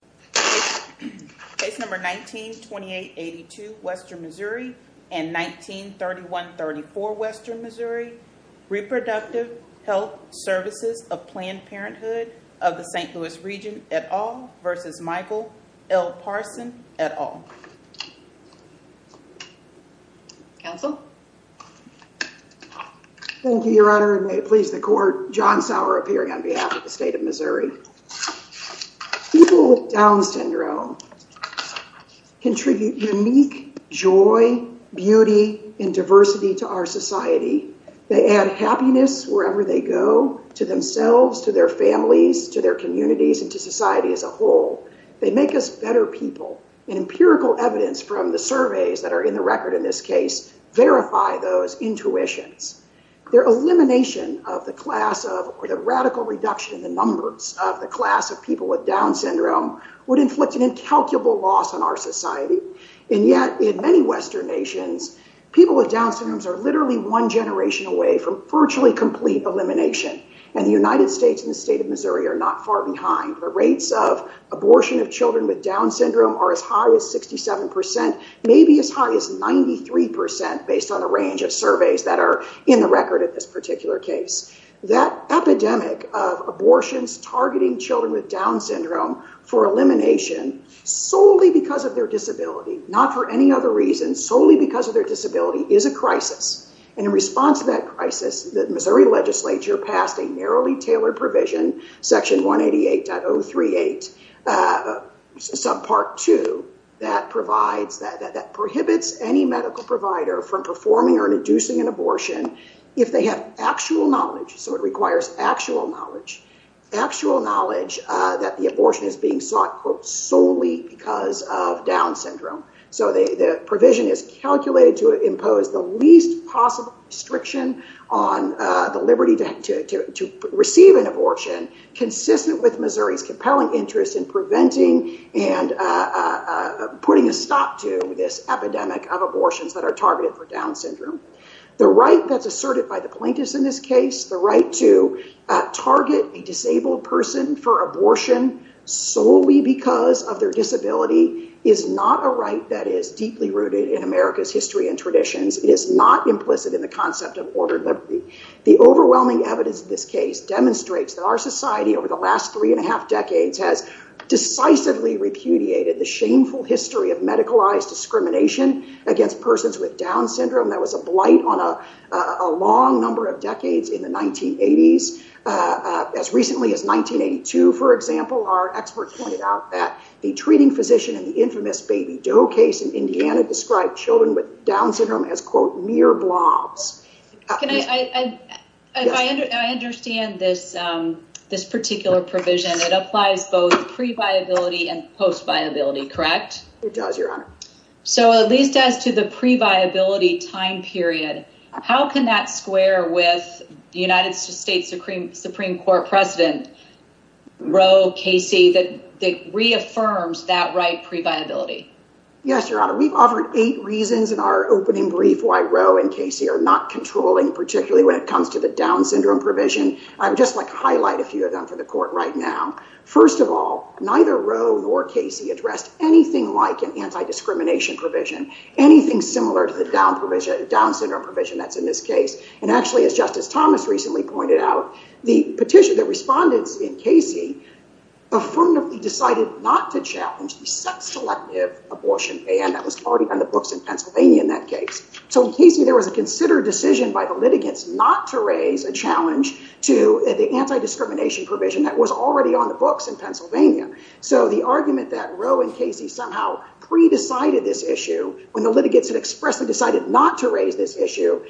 Planned Parenthood of the St. Louis Region, et al. v. Michael L. Parson, et al. Thank you, Your Honor, and may it please the Court, John Sauer appearing on behalf of the State of Missouri. People with Down Syndrome contribute unique joy, beauty, and diversity to our society. They add happiness wherever they go, to themselves, to their families, to their communities, and to society as a whole. They make us better people. And empirical evidence from the surveys that are in the record in this case verify those intuitions. Their elimination of the class of, or the radical reduction in the numbers of the class of people with Down Syndrome would inflict an incalculable loss on our society. And yet, in many Western nations, people with Down Syndrome are literally one generation away from virtually complete elimination. And the United States and the State of Missouri are not far behind. The rates of abortion of children with Down Syndrome are as high as 67%, maybe as high as 93% based on a range of surveys that are in the record in this particular case. That epidemic of abortions targeting children with Down Syndrome for elimination, solely because of their disability, not for any other reason, solely because of their disability, is a crisis. And in response to that crisis, the Missouri Legislature passed a narrowly tailored provision, section 188.038, subpart 2, that prohibits any medical provider from performing or inducing an abortion if they have actual knowledge, so it requires actual knowledge, actual knowledge that the abortion is being sought, quote, solely because of Down Syndrome. So the provision is calculated to impose the least possible restriction on the liberty to receive an abortion consistent with Missouri's compelling interest in preventing and putting a stop to this epidemic of abortions that are targeted for Down Syndrome. The right that's asserted by the plaintiffs in this case, the right to target a disabled person for abortion solely because of their disability, is not a right that is deeply rooted in America's history and traditions. It is not implicit in the concept of ordered liberty. The overwhelming evidence of this case demonstrates that our society over the last three and a half decades has decisively repudiated the shameful history of medicalized discrimination against persons with Down Syndrome that was a blight on a long number of decades in the 1980s, as recently as 1982, for example, our expert pointed out that the treating physician in the infamous Baby Doe case in Indiana described children with Down Syndrome as, quote, mere blobs. If I understand this particular provision, it applies both pre-viability and post-viability, correct? It does, Your Honor. So at least as to the pre-viability time period, how can that square with the United States Supreme Court president, Roe, Casey, that reaffirms that right pre-viability? Yes, Your Honor. We've offered eight reasons in our opening brief why Roe and Casey are not controlling, particularly when it comes to the Down Syndrome provision. I would just like to highlight a few of them for the court right now. First of all, neither Roe nor Casey addressed anything like an anti-discrimination provision, anything similar to the Down Syndrome provision that's in this case. And actually, as Justice Thomas recently pointed out, the petition, the respondents in Casey, affirmatively decided not to challenge the sex-selective abortion ban that was already on the books in Pennsylvania in that case. So in Casey, there was a considered decision by the litigants not to raise a challenge to the anti-discrimination provision that was already on the books in Pennsylvania. So the argument that Roe and Casey somehow pre-decided this issue when the litigants had expressly decided not to raise this issue,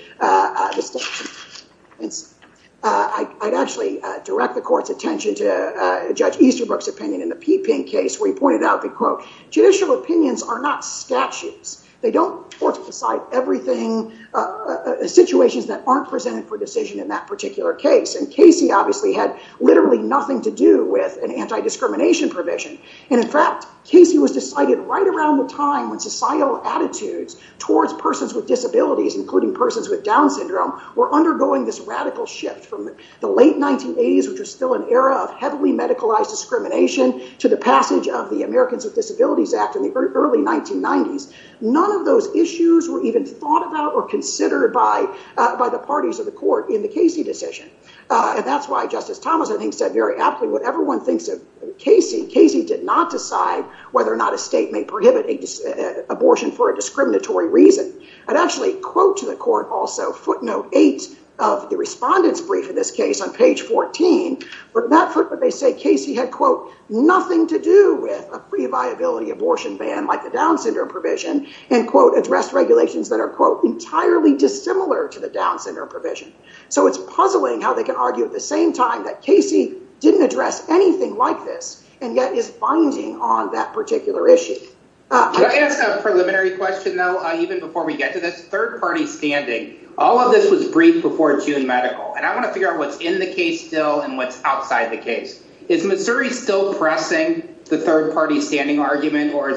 I'd actually direct the court's attention to Judge Easterbrook's opinion in the Peeping case, where he pointed out that, quote, judicial opinions are not statutes. They don't decide everything, situations that aren't presented for decision in that particular case. And Casey obviously had literally nothing to do with an anti-discrimination provision. And in fact, Casey was decided right around the time when societal attitudes towards persons with disabilities, including persons with Down Syndrome, were undergoing this radical shift from the late 1980s, which was still an era of heavily medicalized discrimination, to the passage of the Americans with Disabilities Act in the early 1990s. None of those issues were even thought about or considered by the parties of the court in the Casey decision. And that's why Justice Thomas, I think, said very aptly, whatever one thinks of Casey, Casey did not decide whether or not a state may prohibit abortion for a discriminatory reason. I'd actually quote to the court also footnote eight of the respondent's brief had nothing to do with a pre-viability abortion ban like the Down Syndrome provision and, quote, addressed regulations that are, quote, entirely dissimilar to the Down Syndrome provision. So it's puzzling how they can argue at the same time that Casey didn't address anything like this and yet is binding on that particular issue. Can I ask a preliminary question, though, even before we get to this? Third-party standing, all of this was briefed before June medical, and I want to figure out what's in the case still and what's outside the case. Is Missouri still pressing the third-party standing argument, or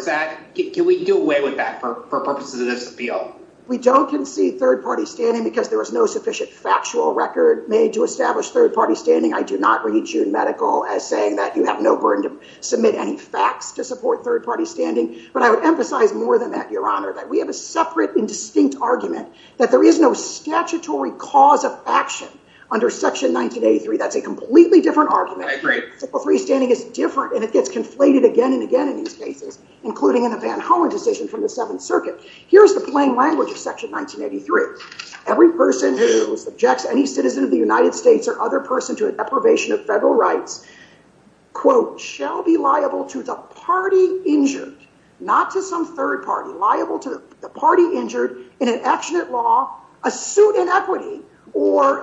can we do away with that for purposes of this appeal? We don't concede third-party standing because there was no sufficient factual record made to establish third-party standing. I do not read June medical as saying that you have no burden to submit any facts to support third-party standing. But I would emphasize more than that, Your Honor, that we have a separate and distinct argument that there is no statutory cause of action under Section 1983. That's a completely different argument. I agree. Statutory standing is different, and it gets conflated again and again in these cases, including in the Van Hollen decision from the Seventh Circuit. Here's the plain language of Section 1983. Every person who subjects any citizen of the United States or other person to a deprivation of federal rights, quote, shall be liable to the party injured, not to some third party, liable to the party injured in an action at law, a suit in equity, or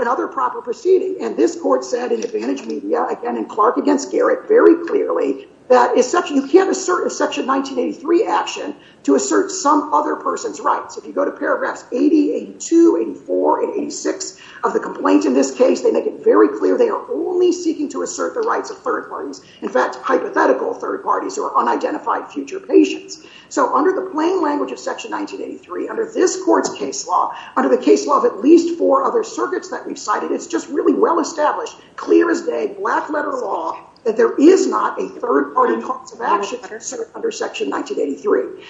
another proper proceeding. And this court said in Advantage Media, again in Clark against Garrick, very clearly that you can't assert a Section 1983 action to assert some other person's rights. If you go to paragraphs 80, 82, 84, and 86 of the complaint in this case, they make it very clear they are only seeking to assert the rights of third parties, in fact, hypothetical third parties or unidentified future patients. So under the plain language of Section 1983, under this court's case law, under the case law of at least four other circuits that we've cited, it's just really well established, clear as day, black letter law, that there is not a third party cause of action under Section 1983.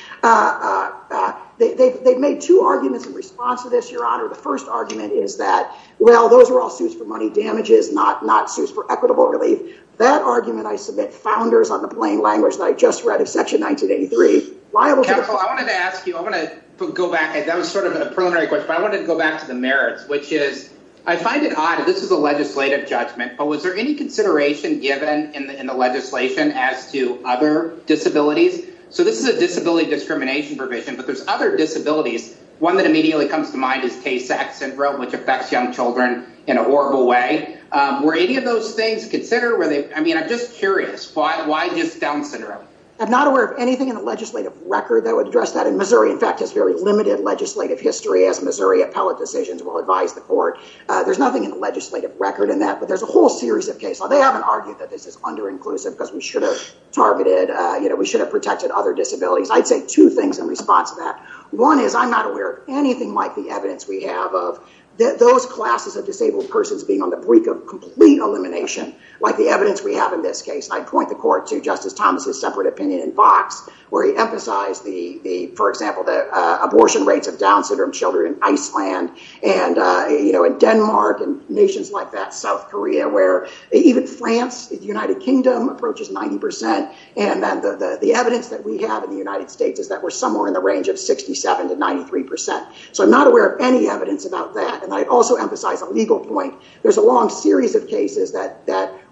They've made two arguments in response to this, Your Honor. The first argument is that, well, those are all suits for money damages, not suits for equitable relief. That argument, I submit, founders on the plain language that I just read of Section 1983, liable to the party injured. Counsel, I wanted to ask you, I'm going to go back. That was sort of a preliminary question, but I wanted to go back to the merits, which is I find it odd. This is a legislative judgment, but was there any consideration given in the legislation as to other disabilities? So this is a disability discrimination provision, but there's other disabilities. One that immediately comes to mind is Tay-Sachs syndrome, which affects young children in a horrible way. Were any of those things considered? I mean, I'm just curious. Why just Down syndrome? I'm not aware of anything in the legislative record that would address that, and Missouri, in fact, has very limited legislative history as Missouri appellate decisions will advise the court. There's nothing in the legislative record in that, but there's a whole series of cases. They haven't argued that this is under-inclusive because we should have targeted, you know, we should have protected other disabilities. I'd say two things in response to that. One is I'm not aware of anything like the evidence we have of those classes of disabled persons being on the brink of complete elimination, like the evidence we have in this case. I'd point the court to Justice Thomas' separate opinion in Vox, where he emphasized, for example, the abortion rates of Down syndrome children in Iceland and, you know, in Denmark and nations like that, South Korea, where even France, the United Kingdom, approaches 90%, and the evidence that we have in the United States is that we're somewhere in the range of 67% to 93%. So I'm not aware of any evidence about that. And I'd also emphasize a legal point. There's a long series of cases that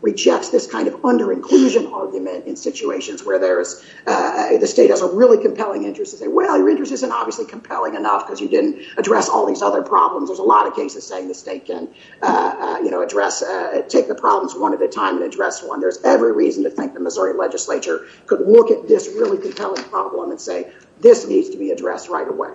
rejects this kind of under-inclusion argument in situations where there's... the state has a really compelling interest to say, well, your interest isn't obviously compelling enough because you didn't address all these other problems. There's a lot of cases saying the state can, you know, address... take the problems one at a time and address one. There's every reason to think the Missouri legislature could look at this really compelling problem and say, this needs to be addressed right away.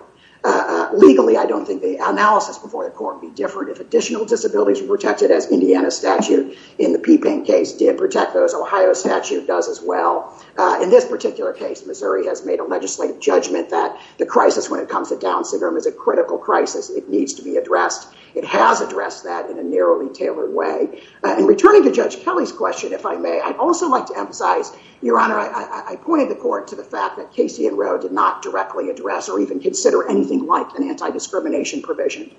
Legally, I don't think the analysis before the court would be different. If additional disabilities were protected, as Indiana's statute in the P-Pain case did protect those, Ohio's statute does as well. In this particular case, Missouri has made a legislative judgment that the crisis when it comes to Down syndrome is a critical crisis. It needs to be addressed. It has addressed that in a narrowly tailored way. In returning to Judge Kelly's question, if I may, I'd also like to emphasize, Your Honor, I pointed the court to the fact that Casey and Roe did not directly address or even consider anything like an anti-discrimination provision.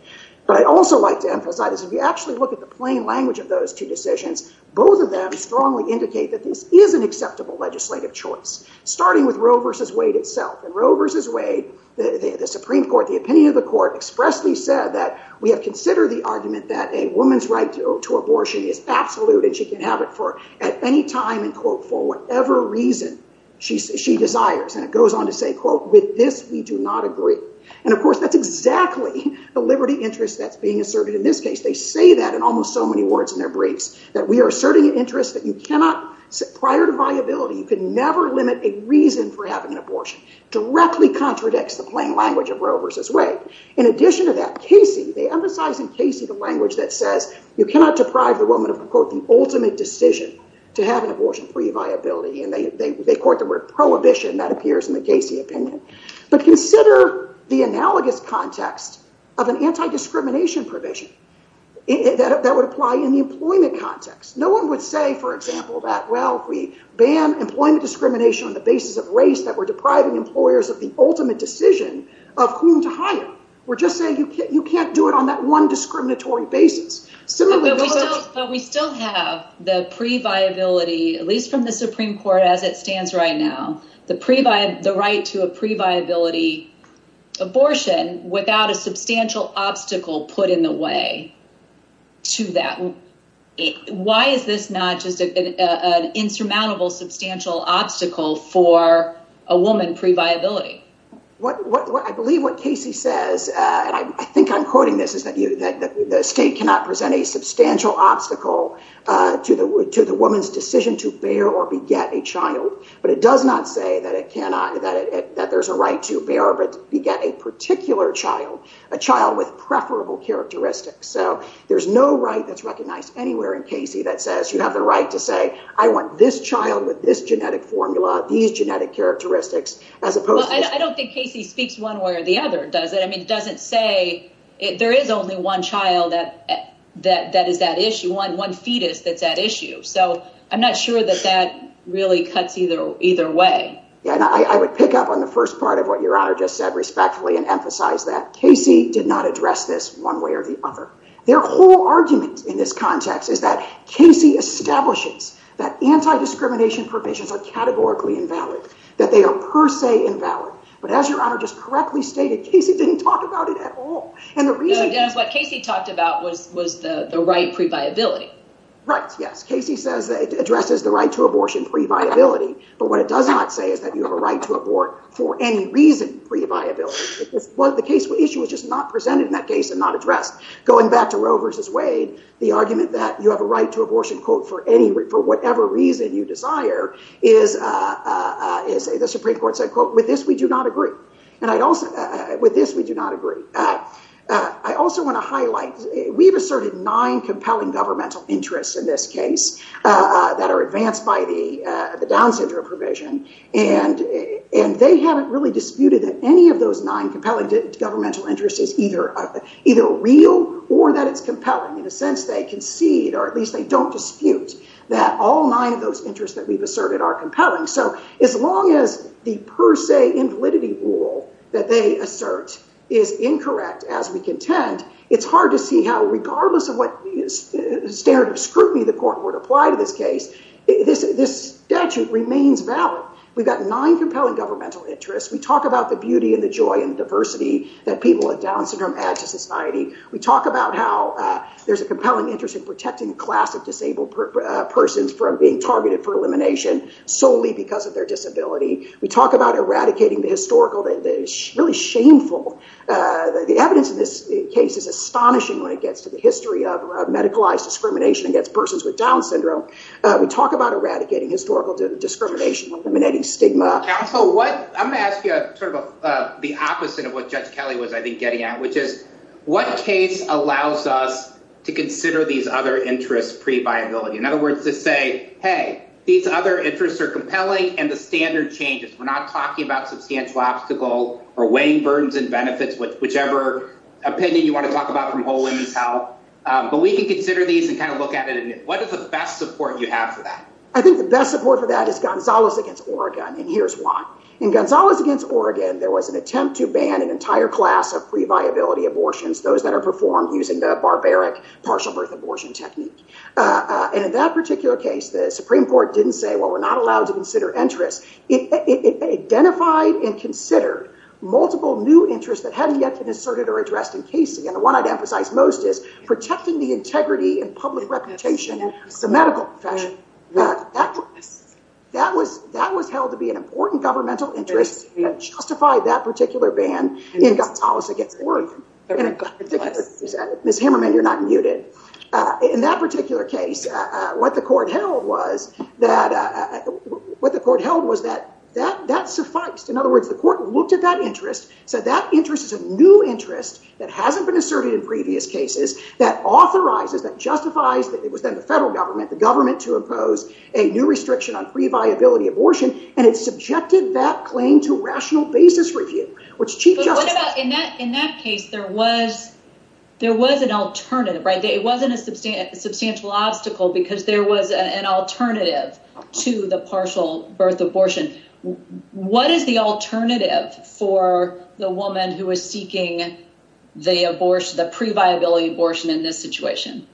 But I'd also like to emphasize, if you actually look at the plain language of those two decisions, both of them strongly indicate that this is an acceptable legislative choice, starting with Roe v. Wade itself. And Roe v. Wade, the Supreme Court, the opinion of the court expressly said that we have considered the argument that a woman's right to abortion is absolute and she can have it at any time and, quote, for whatever reason she desires. And it goes on to say, quote, with this we do not agree. And, of course, that's exactly the liberty interest that's being asserted in this case. They say that in almost so many words in their briefs, that we are asserting an interest that you cannot, prior to viability, you could never limit a reason for having an abortion. Directly contradicts the plain language of Roe v. Wade. In addition to that, Casey, they emphasize in Casey the language that says you cannot deprive the woman of, quote, the ultimate decision to have an abortion pre-viability. And they quote the word prohibition. That appears in the Casey opinion. But consider the analogous context of an anti-discrimination provision that would apply in the employment context. No one would say, for example, that, well, we ban employment discrimination on the basis of race that we're depriving employers of the ultimate decision of whom to hire. We're just saying you can't do it on that one discriminatory basis. But we still have the pre-viability, at least from the Supreme Court as it stands right now, the right to a pre-viability abortion without a substantial obstacle put in the way to that. Why is this not just an insurmountable substantial obstacle for a woman pre-viability? I believe what Casey says, and I think I'm quoting this, is that the state cannot present a substantial obstacle to the woman's decision to bear or beget a child. But it does not say that there's a right to bear or beget a particular child, a child with preferable characteristics. So there's no right that's recognized anywhere in Casey that says you have the right to say, I want this child with this genetic formula, these genetic characteristics, as opposed to... Well, I don't think Casey speaks one way or the other, does it? I mean, it doesn't say... There is only one child that is that issue, one fetus that's at issue. So I'm not sure that that really cuts either way. Yeah, and I would pick up on the first part of what Your Honour just said respectfully and emphasize that. Casey did not address this one way or the other. Their whole argument in this context is that Casey establishes that anti-discrimination provisions are categorically invalid, that they are per se invalid. But as Your Honour just correctly stated, Casey didn't talk about it at all. No, Dennis, what Casey talked about was the right pre-viability. Right, yes. Casey says it addresses the right to abortion pre-viability, but what it does not say is that you have a right to abort for any reason pre-viability. The issue was just not presented in that case and not addressed. Going back to Roe v. Wade, the argument that you have a right to abortion, quote, for whatever reason you desire is... The Supreme Court said, quote, With this we do not agree. I also want to highlight, we've asserted nine compelling governmental interests in this case that are advanced by the Down syndrome provision, and they haven't really disputed that any of those nine compelling governmental interests is either real or that it's compelling. In a sense, they concede, or at least they don't dispute, that all nine of those interests that we've asserted are compelling. So as long as the per se invalidity rule that they assert is incorrect as we contend, it's hard to see how regardless of what standard of scrutiny the court would apply to this case, this statute remains valid. We've got nine compelling governmental interests. We talk about the beauty and the joy and the diversity that people with Down syndrome add to society. We talk about how there's a compelling interest in protecting a class of disabled persons from being targeted for elimination solely because of their disability. We talk about eradicating the historical, the really shameful... The evidence in this case is astonishing when it gets to the history of medicalized discrimination against persons with Down syndrome. We talk about eradicating historical discrimination, eliminating stigma. Counsel, I'm going to ask you sort of the opposite of what Judge Kelly was, I think, getting at, which is what case allows us to consider these other interests previability? In other words, to say, hey, these other interests are compelling, and the standard changes. We're not talking about substantial obstacle or weighing burdens and benefits, whichever opinion you want to talk about from whole women's health. But we can consider these and kind of look at it, and what is the best support you have for that? I think the best support for that is Gonzalez against Oregon, and here's why. In Gonzalez against Oregon, there was an attempt to ban an entire class of previability abortions, those that are performed using the barbaric partial birth abortion technique. And in that particular case, the Supreme Court didn't say, well, we're not allowed to consider interests. It identified and considered multiple new interests that hadn't yet been asserted or addressed in case. And the one I'd emphasize most is protecting the integrity and public reputation of the medical profession. That was held to be an important governmental interest that justified that particular ban in Gonzalez against Oregon. Ms. Hammerman, you're not muted. In that particular case, what the court held was that that sufficed. In other words, the court looked at that interest, said that interest is a new interest that hasn't been asserted in previous cases, that authorizes, that justifies, it was then the federal government, the government to impose a new restriction on previability abortion, and it subjected that claim to rational basis review, which Chief Justice... But what about, in that case, there was an alternative, right? It wasn't a substantial obstacle because there was an alternative to the partial birth abortion. What is the alternative for the woman who is seeking the previability abortion in this situation?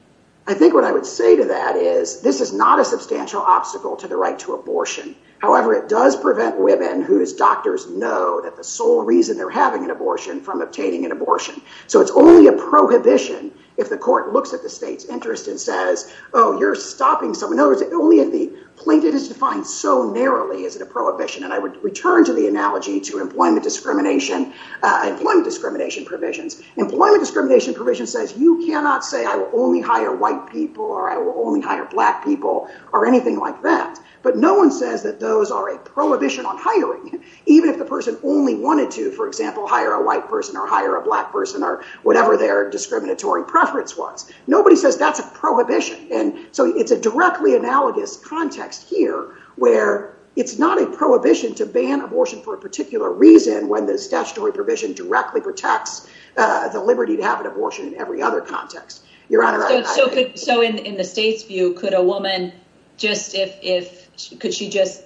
I think what I would say to that is this is not a substantial obstacle to the right to abortion. However, it does prevent women whose doctors know that the sole reason they're having an abortion from obtaining an abortion. So it's only a prohibition if the court looks at the state's interest and says, oh, you're stopping someone. So it's only if the plaintiff is defined so narrowly as a prohibition. And I would return to the analogy to employment discrimination, employment discrimination provisions. Employment discrimination provisions says you cannot say I will only hire white people or I will only hire black people or anything like that. But no one says that those are a prohibition on hiring, even if the person only wanted to, for example, hire a white person or hire a black person or whatever their discriminatory preference was. Nobody says that's a prohibition. And so it's a directly analogous context here where it's not a prohibition to ban abortion for a particular reason when the statutory provision directly protects the liberty to have an abortion in every other context. Your Honor. So in the state's view, could a woman just if, could she just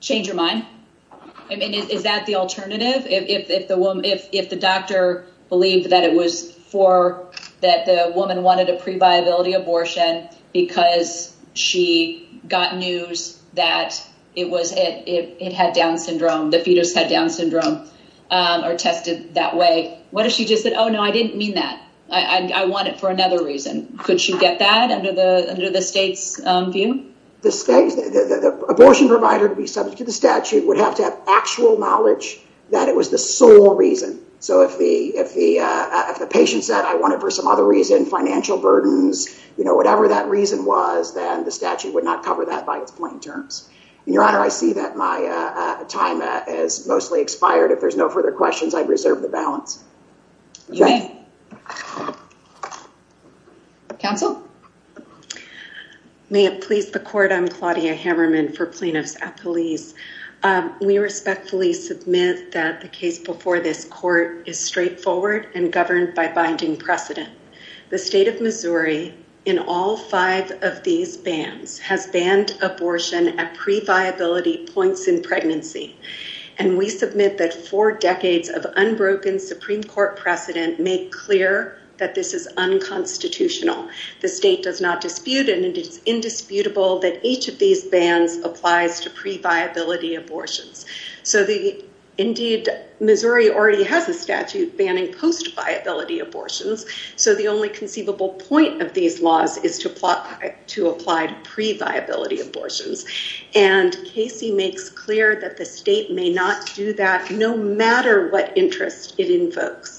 change her mind? I mean, is that the alternative? If the doctor believed that it was for, that the woman wanted a pre-viability abortion because she got news that it was it, it had Down syndrome, the fetus had Down syndrome or tested that way. What if she just said, oh, no, I didn't mean that. I want it for another reason. Could she get that under the state's view? The state, the abortion provider to be subject to the statute would have to have actual knowledge that it was the sole reason. So if the patient said, I want it for some other reason, financial burdens, whatever that reason was, then the statute would not cover that by its plain terms. And Your Honor, I see that my time is mostly expired. If there's no further questions, I reserve the balance. You may. Counsel. May it please the court. I'm Claudia Hammerman for plaintiffs at police. We respectfully submit that the case before this court is straightforward and governed by binding precedent. The state of Missouri, in all five of these bands, has banned abortion at pre-viability points in pregnancy. And we submit that four decades of unbroken Supreme Court precedent make clear that this is unconstitutional. The state does not dispute and it is indisputable that each of these bands applies to pre-viability abortions. So the, indeed, Missouri already has a statute banning post-viability abortions. So the only conceivable point of these laws is to apply to pre-viability abortions. And Casey makes clear that the state may not do that no matter what interest it invokes.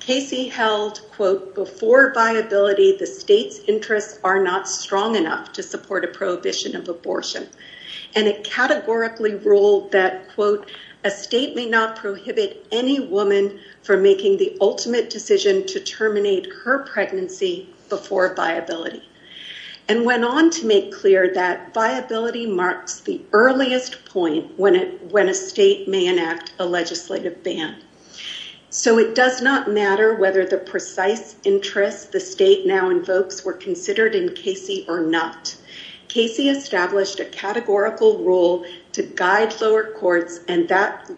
Casey held, quote, before viability, the state's interests are not strong enough to support a prohibition of abortion. And it categorically ruled that, quote, a state may not prohibit any woman from making the ultimate decision to terminate her pregnancy before viability. And went on to make clear that viability marks the earliest point when a state may enact a legislative ban. So it does not matter whether the precise interests the state now invokes were considered in Casey or not. Casey established a categorical rule to guide lower courts, and that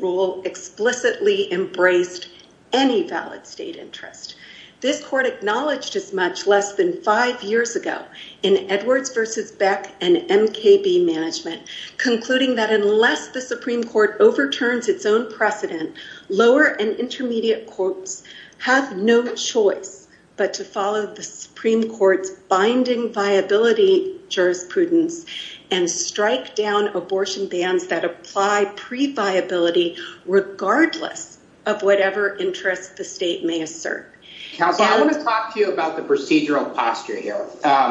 rule explicitly embraced any valid state interest. This court acknowledged as much less than five years ago in Edwards v. Beck and MKB management, concluding that unless the Supreme Court overturns its own precedent, lower and intermediate courts have no choice but to follow the Supreme Court's binding viability jurisprudence and strike down abortion bans that apply pre-viability regardless of whatever interests the state may assert. Counsel, I want to talk to you about the procedural posture here.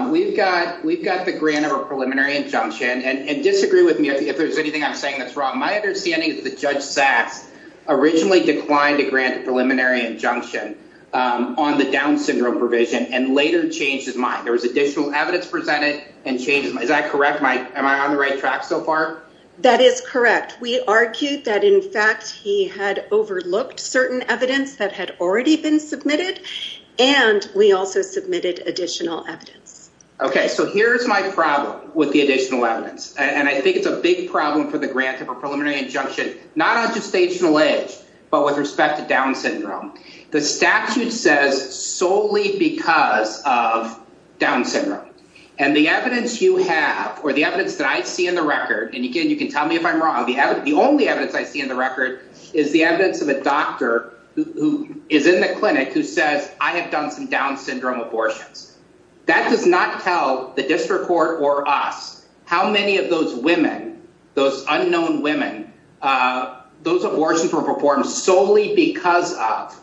We've got the grant of a preliminary injunction, and disagree with me if there's anything I'm saying that's wrong. My understanding is that Judge Saks originally declined to grant a preliminary injunction on the Down syndrome provision and later changed his mind. There was additional evidence presented and changed. Is that correct? Am I on the right track so far? That is correct. We argued that, in fact, he had overlooked certain evidence that had already been submitted, and we also submitted additional evidence. Okay, so here's my problem with the additional evidence, and I think it's a big problem for the grant of a preliminary injunction, not on gestational age, but with respect to Down syndrome. The statute says solely because of Down syndrome, and the evidence you have, or the evidence that I see in the record, and again, you can tell me if I'm wrong, the only evidence I see in the record is the evidence of a doctor who is in the clinic who says, I have done some Down syndrome abortions. That does not tell the district court or us how many of those women, those unknown women, those abortions were performed solely because of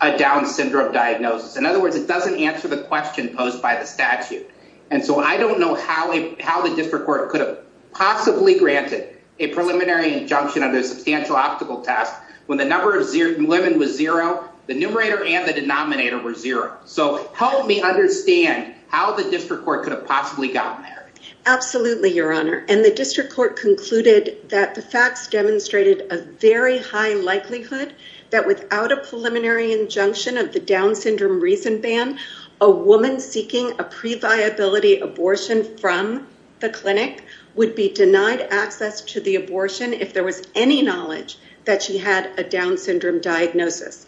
a Down syndrome diagnosis. In other words, it doesn't answer the question posed by the statute. And so I don't know how the district court could have possibly granted a preliminary injunction under a substantial optical test when the number of women was zero, the numerator and the denominator were zero. So help me understand how the district court could have possibly gotten there. Absolutely, Your Honor. And the district court concluded that the facts demonstrated a very high likelihood that without a preliminary injunction of the Down syndrome reason ban, a woman seeking a pre-viability abortion from the clinic would be denied access to the abortion if there was any knowledge that she had a Down syndrome diagnosis.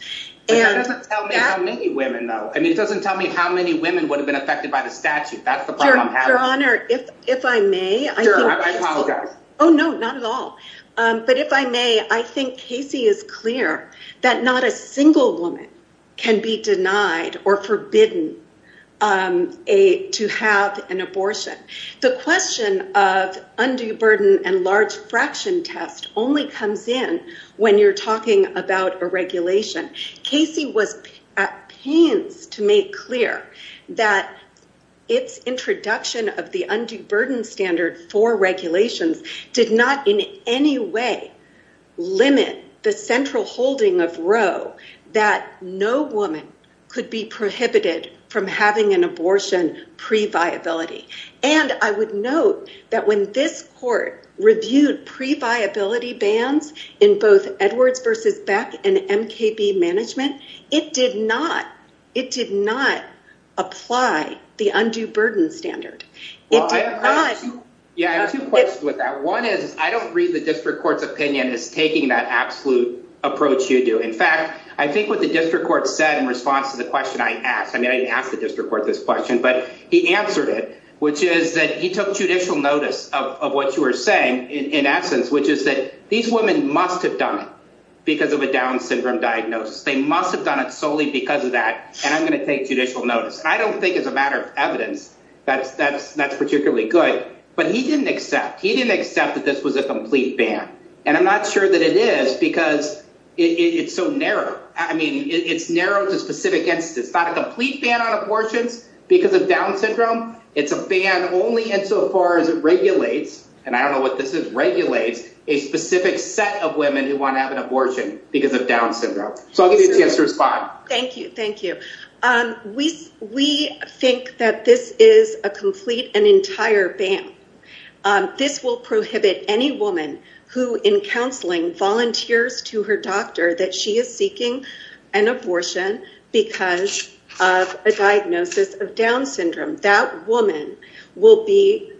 But that doesn't tell me how many women, though. I mean, it doesn't tell me how many women would have been affected by the statute. That's the problem I'm having. Your Honor, if I may. Sure, I apologize. Oh, no, not at all. But if I may, I think Casey is clear that not a single woman can be denied or forbidden to have an abortion. The question of undue burden and large fraction test only comes in when you're talking about a regulation. Casey was at pains to make clear that its introduction for regulations did not in any way limit the central holding of Roe that no woman could be prohibited from having an abortion pre-viability. And I would note that when this court reviewed pre-viability bans in both Edwards v. Beck and MKB management, it did not, it did not apply the undue burden standard. It did not... Well, I have two... Yeah, I have two questions with that. One is, I don't read the district court's opinion as taking that absolute approach you do. In fact, I think what the district court said in response to the question I asked, I mean, I didn't ask the district court this question, but he answered it, which is that he took judicial notice of what you were saying, in essence, which is that these women must have done it because of a Down syndrome diagnosis. They must have done it solely because of that. And I'm going to take judicial notice. I don't think as a matter of evidence that's particularly good, but he didn't accept. He didn't accept that this was a complete ban. And I'm not sure that it is because it's so narrow. I mean, it's narrow to specific instances. It's not a complete ban on abortions because of Down syndrome. It's a ban only insofar as it regulates, and I don't know what this is, regulates a specific set of women who want to have an abortion because of Down syndrome. So I'll give you a chance to respond. Thank you. Thank you. We think that this is a complete and entire ban. This will prohibit any woman who, in counseling, volunteers to her doctor that she is seeking an abortion because of a diagnosis of Down syndrome. That woman will be,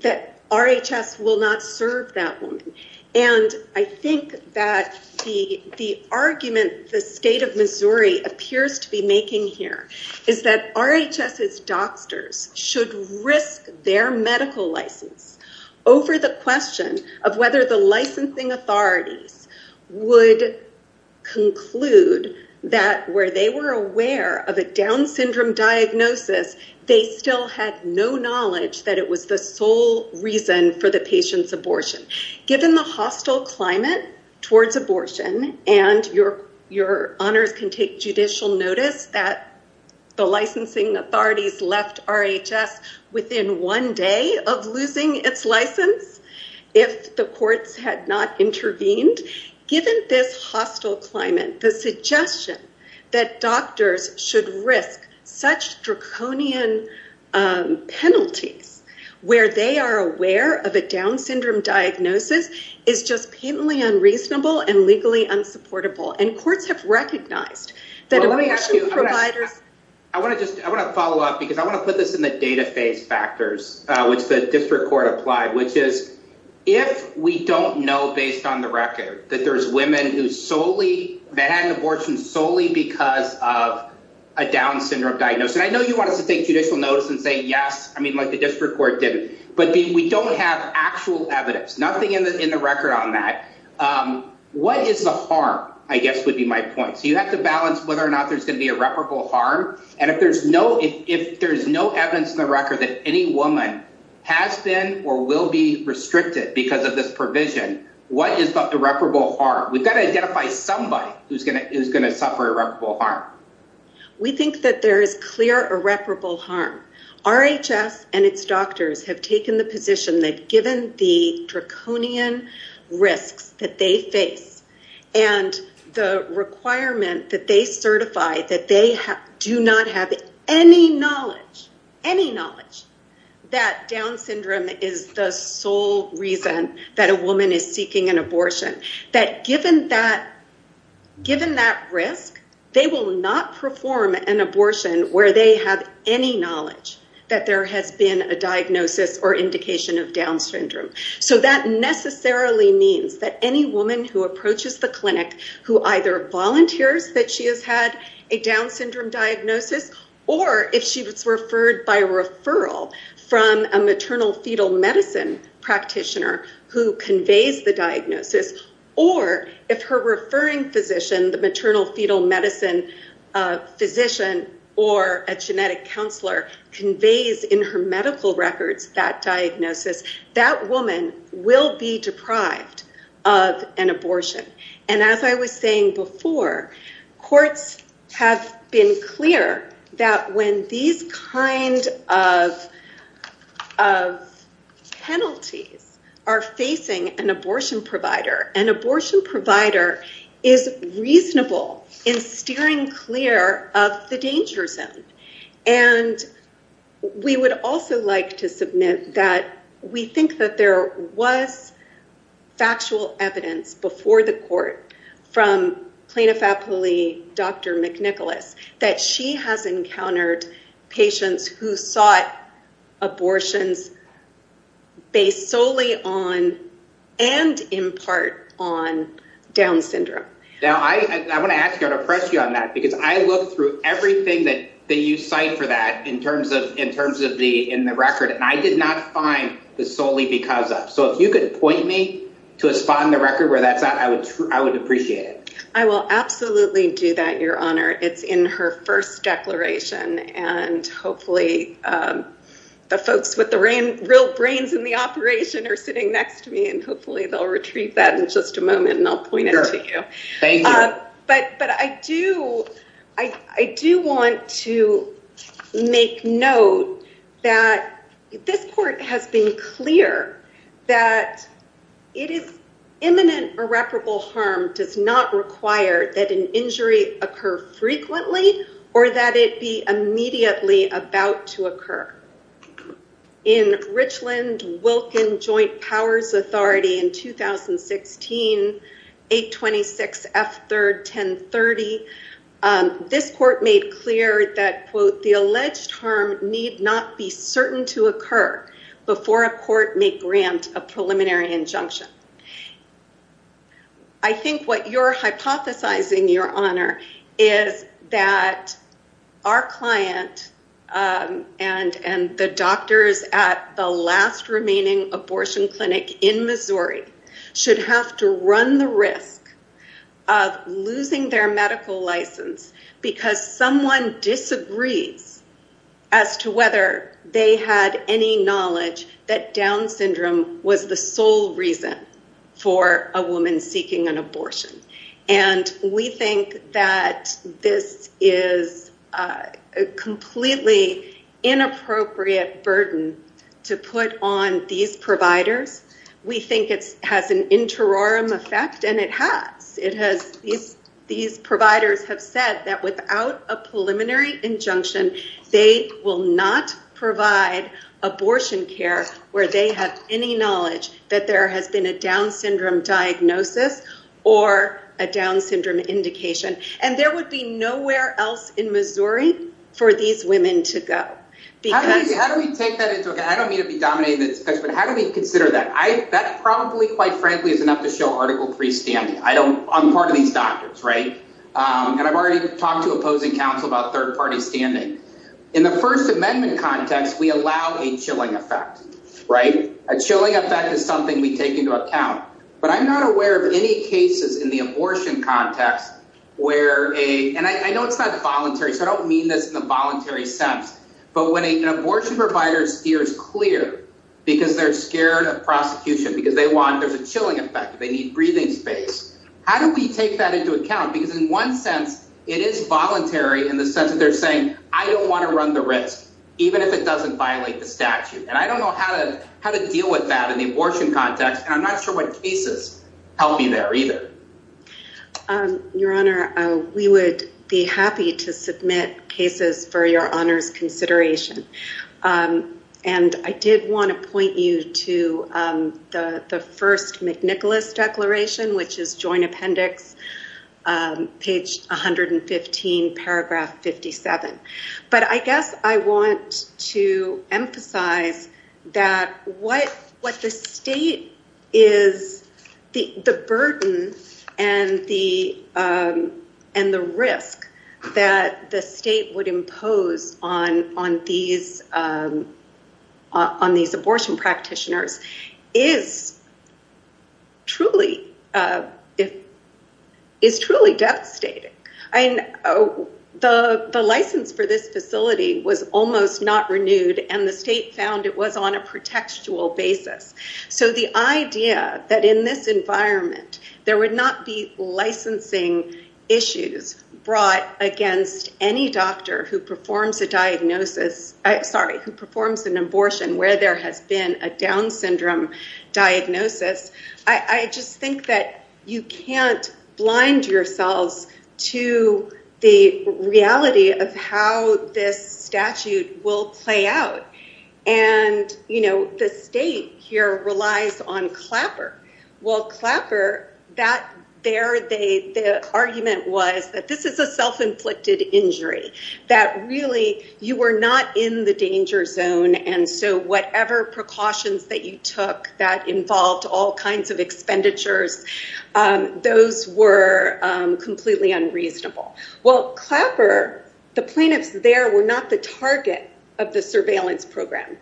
that RHS will not serve that woman. And I think that the argument the state of Missouri appears to be making here is that RHS's doctors should risk their medical license over the question of whether the licensing authorities would conclude that where they were aware of a Down syndrome diagnosis, they still had no knowledge that it was the sole reason for the patient's abortion. Given the hostile climate towards abortion, and your honors can take judicial notice that the licensing authorities left RHS within one day of losing its license, if the courts had not intervened, given this hostile climate, the suggestion that doctors should risk such draconian penalties where they are aware of a Down syndrome diagnosis is just patently unreasonable and legally unsupportable. And courts have recognized that abortion providers... I want to just, I want to follow up because I want to put this in the data phase factors, which the district court applied, which is if we don't know based on the record that there's women who solely, that had an abortion solely because of a Down syndrome diagnosis, and I know you want us to take judicial notice and say yes, I mean like the district court did, but we don't have actual evidence, nothing in the record on that. What is the harm, I guess would be my point. So you have to balance whether or not there's going to be irreparable harm. And if there's no, if there's no evidence in the record that any woman has been or will be restricted because of this provision, what is the irreparable harm? We've got to identify somebody who's going to suffer irreparable harm. We think that there is clear irreparable harm. RHS and its doctors have taken the position that given the draconian risks that they face and the requirement that they certify that they do not have any knowledge, any knowledge, that Down syndrome is the sole reason that a woman is seeking an abortion. That given that, given that risk, they will not perform an abortion where they have any knowledge that there has been a diagnosis or indication of Down syndrome. So that necessarily means that any woman who approaches the clinic who either volunteers that she has had a Down syndrome diagnosis or if she was referred by a referral from a maternal fetal medicine practitioner who conveys the diagnosis or if her referring physician, the maternal fetal medicine physician or a genetic counselor conveys in her medical records that diagnosis, that woman will be deprived of an abortion. And as I was saying before, courts have been clear that when these kind of penalties are facing an abortion provider, an abortion provider is reasonable in steering clear of the danger zone. And we would also like to submit that we think that there was factual evidence before the court from plaintiff-appellee Dr. McNicholas that she has encountered patients who sought abortions based solely on and in part on Down syndrome. Now I want to ask you, I want to press you on that because I looked through everything that you cite for that in terms of the record and I did not find the solely because of. So if you could point me to a spot in the record where that's at, I would appreciate it. I will absolutely do that, Your Honor. It's in her first declaration and hopefully the folks with the real brains in the operation are sitting next to me and hopefully they'll retrieve that in just a moment and I'll point it to you. Thank you. But I do I do want to make note that this court has been clear that it is imminent irreparable harm does not require that an injury occur frequently or that it be immediately about to occur. In Richland-Wilkin Joint Powers Authority in 2016 826 F. 3rd 1030 this court made clear that quote, the alleged harm need not be certain to occur before a court may grant a preliminary injunction. I think what you're hypothesizing, Your Honor, is that our client and the doctors at the last remaining abortion clinic in Missouri should have to run the risk of losing their medical license because someone disagrees as to whether they had any knowledge that Down syndrome was the sole reason for a woman seeking an abortion. And we think that this is a completely inappropriate burden to put on these providers. We think it has an interim effect and it has. These providers have said that without a preliminary injunction they will not provide abortion care where they have any knowledge that there has been a Down syndrome diagnosis or a Down syndrome indication. And there would be nowhere else in Missouri for these women to go. How do we take that into account? I don't mean to be dominating the discussion, but how do we consider that? That probably, quite frankly, is enough to show Article 3 standing. I'm part of these doctors, right? And I've already talked to opposing counsel about third-party standing. In the First Amendment context, we allow a chilling effect, right? A chilling effect is something we take into account. But I'm not aware of any cases in the abortion context where a... And I know it's not voluntary, so I don't mean this in a voluntary sense. But when an abortion provider steers clear because they're scared of prosecution, because they want... There's a chilling effect. They need breathing space. How do we take that into account? Because in one sense, it is voluntary in the sense that they're saying, I don't want to run the risk, even if it doesn't violate the statute. And I don't know how to deal with that in the abortion context, and I'm not sure what cases help you there either. Your Honor, we would be happy to submit cases for Your Honor's consideration. And I did want to point you to the first McNicholas Declaration, which is Joint Appendix, page 115, paragraph 57. But I guess I want to emphasize that what the state is... The burden and the risk that the state would impose on these abortion practitioners is truly devastating. The license for this facility was almost not renewed, and the state found it was on a protectual basis. So the idea that in this environment, there would not be licensing issues brought against any doctor who performs an abortion where there has been a Down syndrome diagnosis, I just think that you can't blind yourselves to the reality of how this statute will play out. And the state here relies on Clapper. Well, Clapper, the argument was that this is a self-inflicted injury, that really, you were not in the danger zone, and so whatever precautions that you took that involved all kinds of expenditures, those were completely unreasonable. Well, Clapper, the plaintiffs there were not the target of the surveillance program.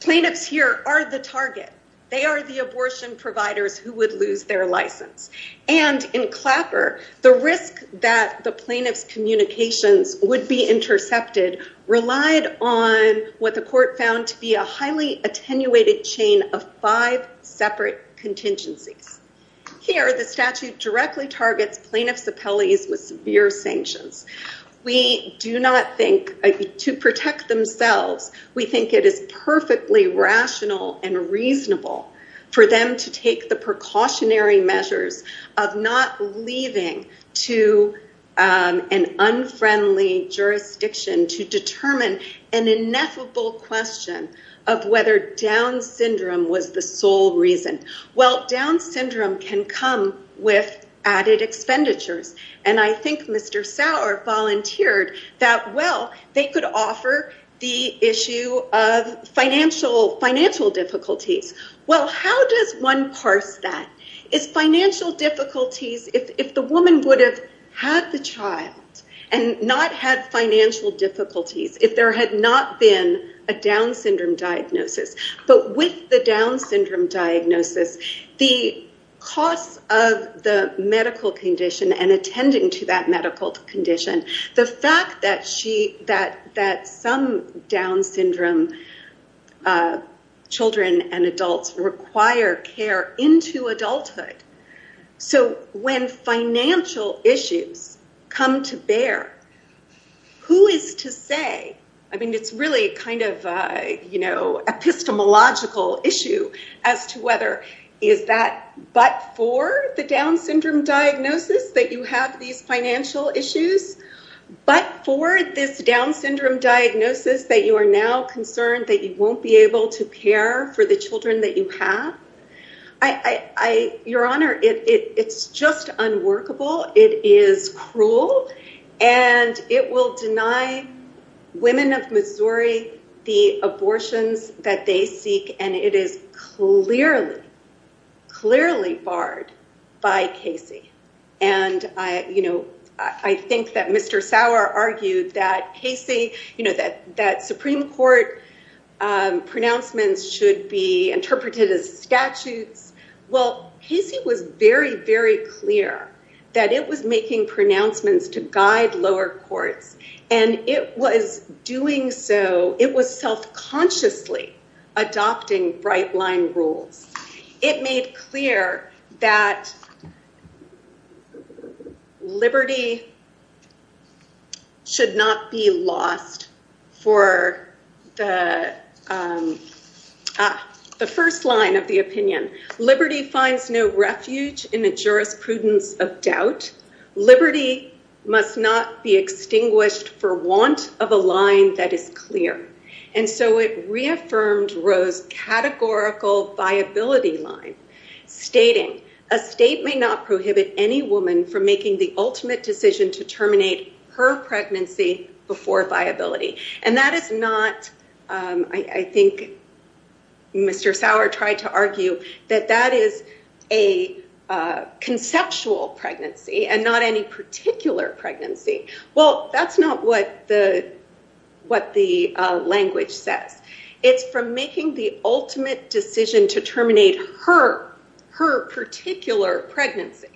Plaintiffs here are the target. They are the abortion providers who would lose their license. And in Clapper, the risk that the plaintiffs' communications would be intercepted relied on what the court found to be a highly attenuated chain of five separate contingencies. Here, the statute plaintiffs' appellees with severe sanctions. We do not think, to protect themselves, we think it is perfectly rational and reasonable for them to take the precautionary measures of not leaving to an unfriendly jurisdiction to determine an ineffable question of whether Down's Syndrome was the sole reason. Well, Down's Syndrome can come with added expenditures, and I think Mr. Sauer volunteered that, well, they could offer the issue of financial difficulties. Well, how does one parse that? Is financial difficulties, if the woman would have had the child and not had financial difficulties, if there had not been a Down's Syndrome diagnosis? But with the Down's Syndrome diagnosis, the cost of the medical condition and attending to that medical condition, the fact that she, that some Down's Syndrome children and adults require care into adulthood, so when financial issues come to bear, who is to say, I mean, it's really kind of, you know, epistemological issue as to whether is that but for the Down's Syndrome diagnosis that you have these financial issues, but for this Down's Syndrome diagnosis that you are now concerned that you won't be able to care for the children that you have? Your Honor, it's just unworkable, it is cruel, and it will deny women of Missouri the abortions that they seek, and it is clearly, clearly barred by Casey, and, you know, I think that Mr. Sauer argued that Casey, you know, that Supreme Court pronouncements should be interpreted as statutes. Well, Casey was very, very clear that it was making pronouncements to guide lower courts, and it was doing so, it was self-consciously adopting bright-line rules. It made clear that liberty should not be lost for the, ah, the first line of the opinion, liberty finds no refuge in the jurisprudence of doubt, liberty must not be extinguished for want of a line that is clear. And so it reaffirmed Roe's categorical viability line, stating a state may not prohibit any woman from making the ultimate decision to terminate her pregnancy before viability. And that is not, I think, Mr. Sauer tried to argue that that is a conceptual pregnancy and not any particular pregnancy. Well, that's not what the language says. It's from making the ultimate decision to terminate her particular pregnancy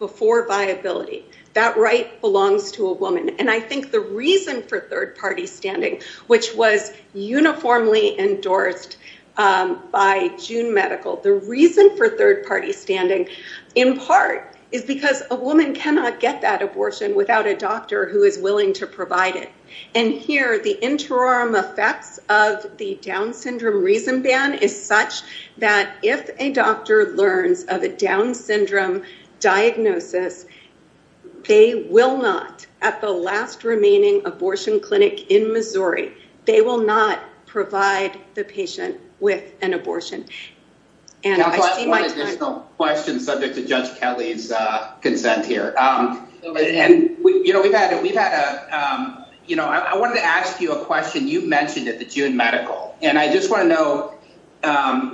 before viability. That right belongs to a woman. And I think the reason for third-party standing, which was uniformly endorsed by June Medical, the reason for third-party standing in part is because a woman cannot get that abortion without a doctor who is willing to provide it. And here, the interim effects of the Down syndrome reason ban is such that if a doctor learns of a Down syndrome diagnosis, they will not, at the last remaining abortion clinic in Missouri, they will not provide the patient with an abortion. Counsel, I have one additional question subject to Judge Kelly's consent here. You know, I wanted to ask you a question you mentioned at the June Medical. And I just want to know,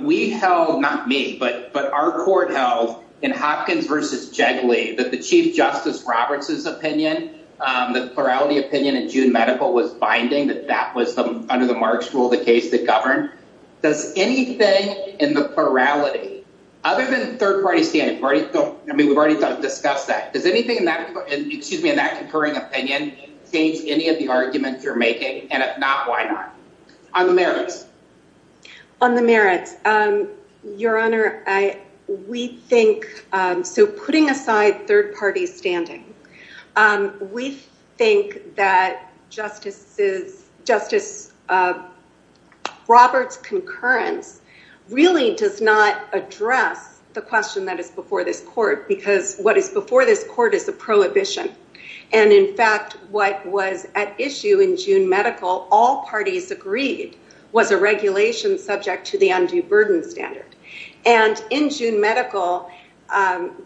we held, not me, but our court held, in Hopkins v. Jiggly, that the Chief Justice Roberts' opinion, the plurality opinion at June Medical was binding, that that was, under the Marks rule, the case that governed. Does anything in the plurality, other than third-party standing, we've already discussed that, does anything in that concurring opinion change any of the arguments you're making? And if not, why not? On the merits. On the merits, Your Honor, we think, so putting aside third-party standing, we think that Justice Roberts' concurrence really does not address the question that is before this court, because what is before this court is a prohibition. And in fact, what was at issue in June Medical, all parties agreed, was a regulation subject to the undue burden standard. And in June Medical,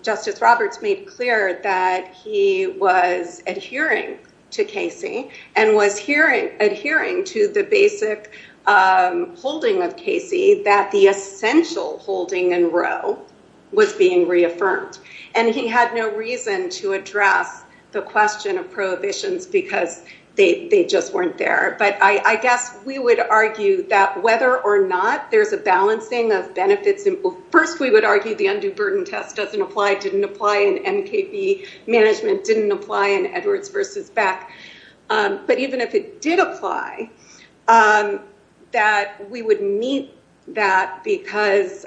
Justice Roberts made clear that he was adhering to Casey, and was adhering to the basic holding of Casey, that the essential holding in Roe was being reaffirmed. And he had no reason to address the question of prohibitions because they just weren't there. But I guess we would argue that whether or not there's a balancing of benefits, first we would argue the undue burden test doesn't apply, didn't apply in NKV management, didn't apply in Edwards versus Beck, but even if it did apply, that we would meet that because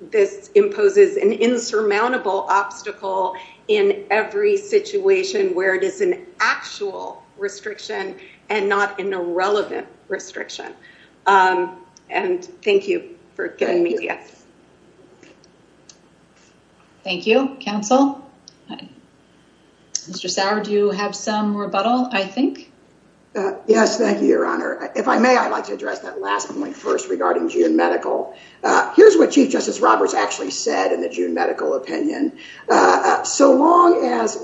this imposes an insurmountable obstacle in every situation where it is an actual restriction and not an irrelevant restriction. And thank you for giving me the answer. Thank you. Counsel? Mr. Sauer, do you have some rebuttal, I think? Yes, thank you, Your Honor. If I may, I'd like to address that last point first regarding June Medical. Here's what Chief Justice Roberts actually said in the June Medical opinion. So long as,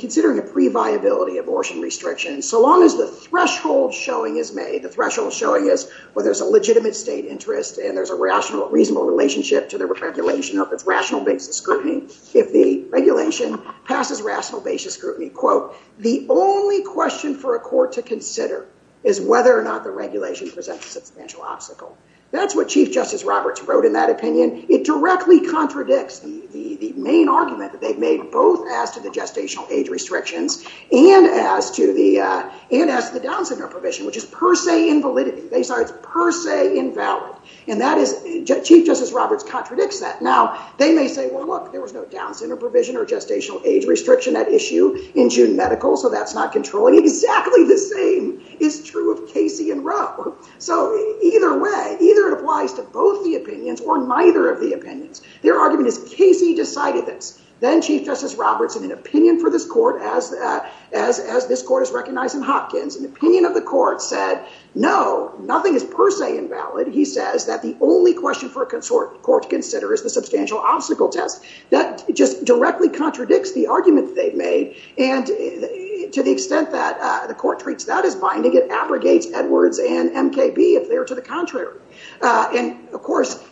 considering a pre-viability abortion restriction, so long as the threshold showing is made, the threshold showing is whether there's a legitimate state interest and there's a rational, reasonable relationship to the regulation of its rational basis scrutiny, if the regulation passes rational basis scrutiny, quote, the only question for a court to consider is whether or not the regulation presents a substantial obstacle. That's what Chief Justice Roberts wrote in that opinion. It directly contradicts the main argument that they've made, both as to the gestational age restrictions and as to the down-signal provision, which is per se invalid. And that is, Chief Justice Roberts contradicts that. Now, they may say, well, look, there was no down-signal provision or gestational age restriction at issue in June Medical, so that's not controlling. Exactly the same is true of Casey and Rowe. So, either way, either it applies to both the opinions or neither of the opinions. Their argument is Casey decided this. Then Chief Justice Roberts, in an opinion for this court, as this court has recognized in Hopkins, an opinion of the court said, no, nothing is per se invalid. He says that the only question for a consort court to consider is the substantial obstacle test. That just directly contradicts the argument they've made, and to the extent that the court treats that as binding, it abrogates Edwards and MKB if they're to the contrary. And, of course,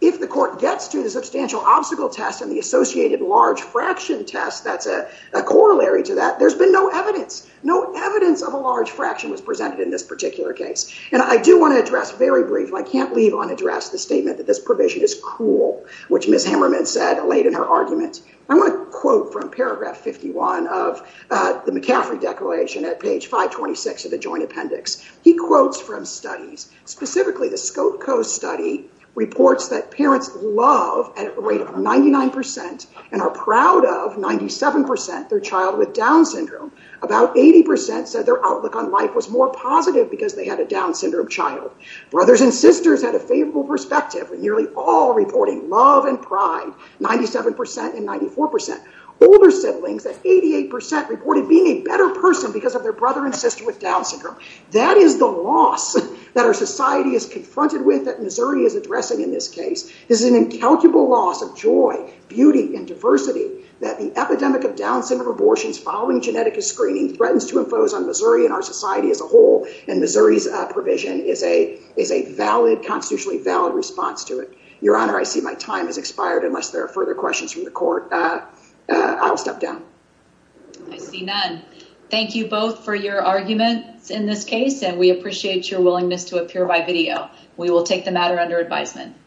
if the court gets to the substantial obstacle test and the associated large fraction test that's a corollary to that, there's been no evidence. No evidence of a large fraction was presented in this particular case. And I do want to address, very briefly, I can't leave unaddressed the statement that this provision is cruel, which Ms. Hammerman said late in her argument. I want to quote from paragraph 51 of the McCaffrey Declaration at page 526 of the Joint Appendix. He quotes from studies, specifically the Skokko study, reports that parents love at a rate of 99% and are proud of 97% their child with Down syndrome. About 80% said their outlook on life was more positive because they had a Down syndrome child. Brothers and sisters had a favorable perspective, nearly all reporting love and pride, 97% and 94%. Older siblings, that 88%, reported being a better person because of their brother and sister with Down syndrome. That is the loss that our society is confronted with that Missouri is addressing in this case. This is an incalculable loss of joy, beauty, and diversity that the epidemic of Down syndrome abortions following genetic screening threatens to impose on Missouri and our society as a whole, and Missouri's provision is a valid, constitutionally valid response to it. Your Honor, I see my time has expired unless there are further questions from the court. I'll step down. I see none. Thank you both for your arguments in this case, and we appreciate your willingness to appear by video. We will take the matter under advisement.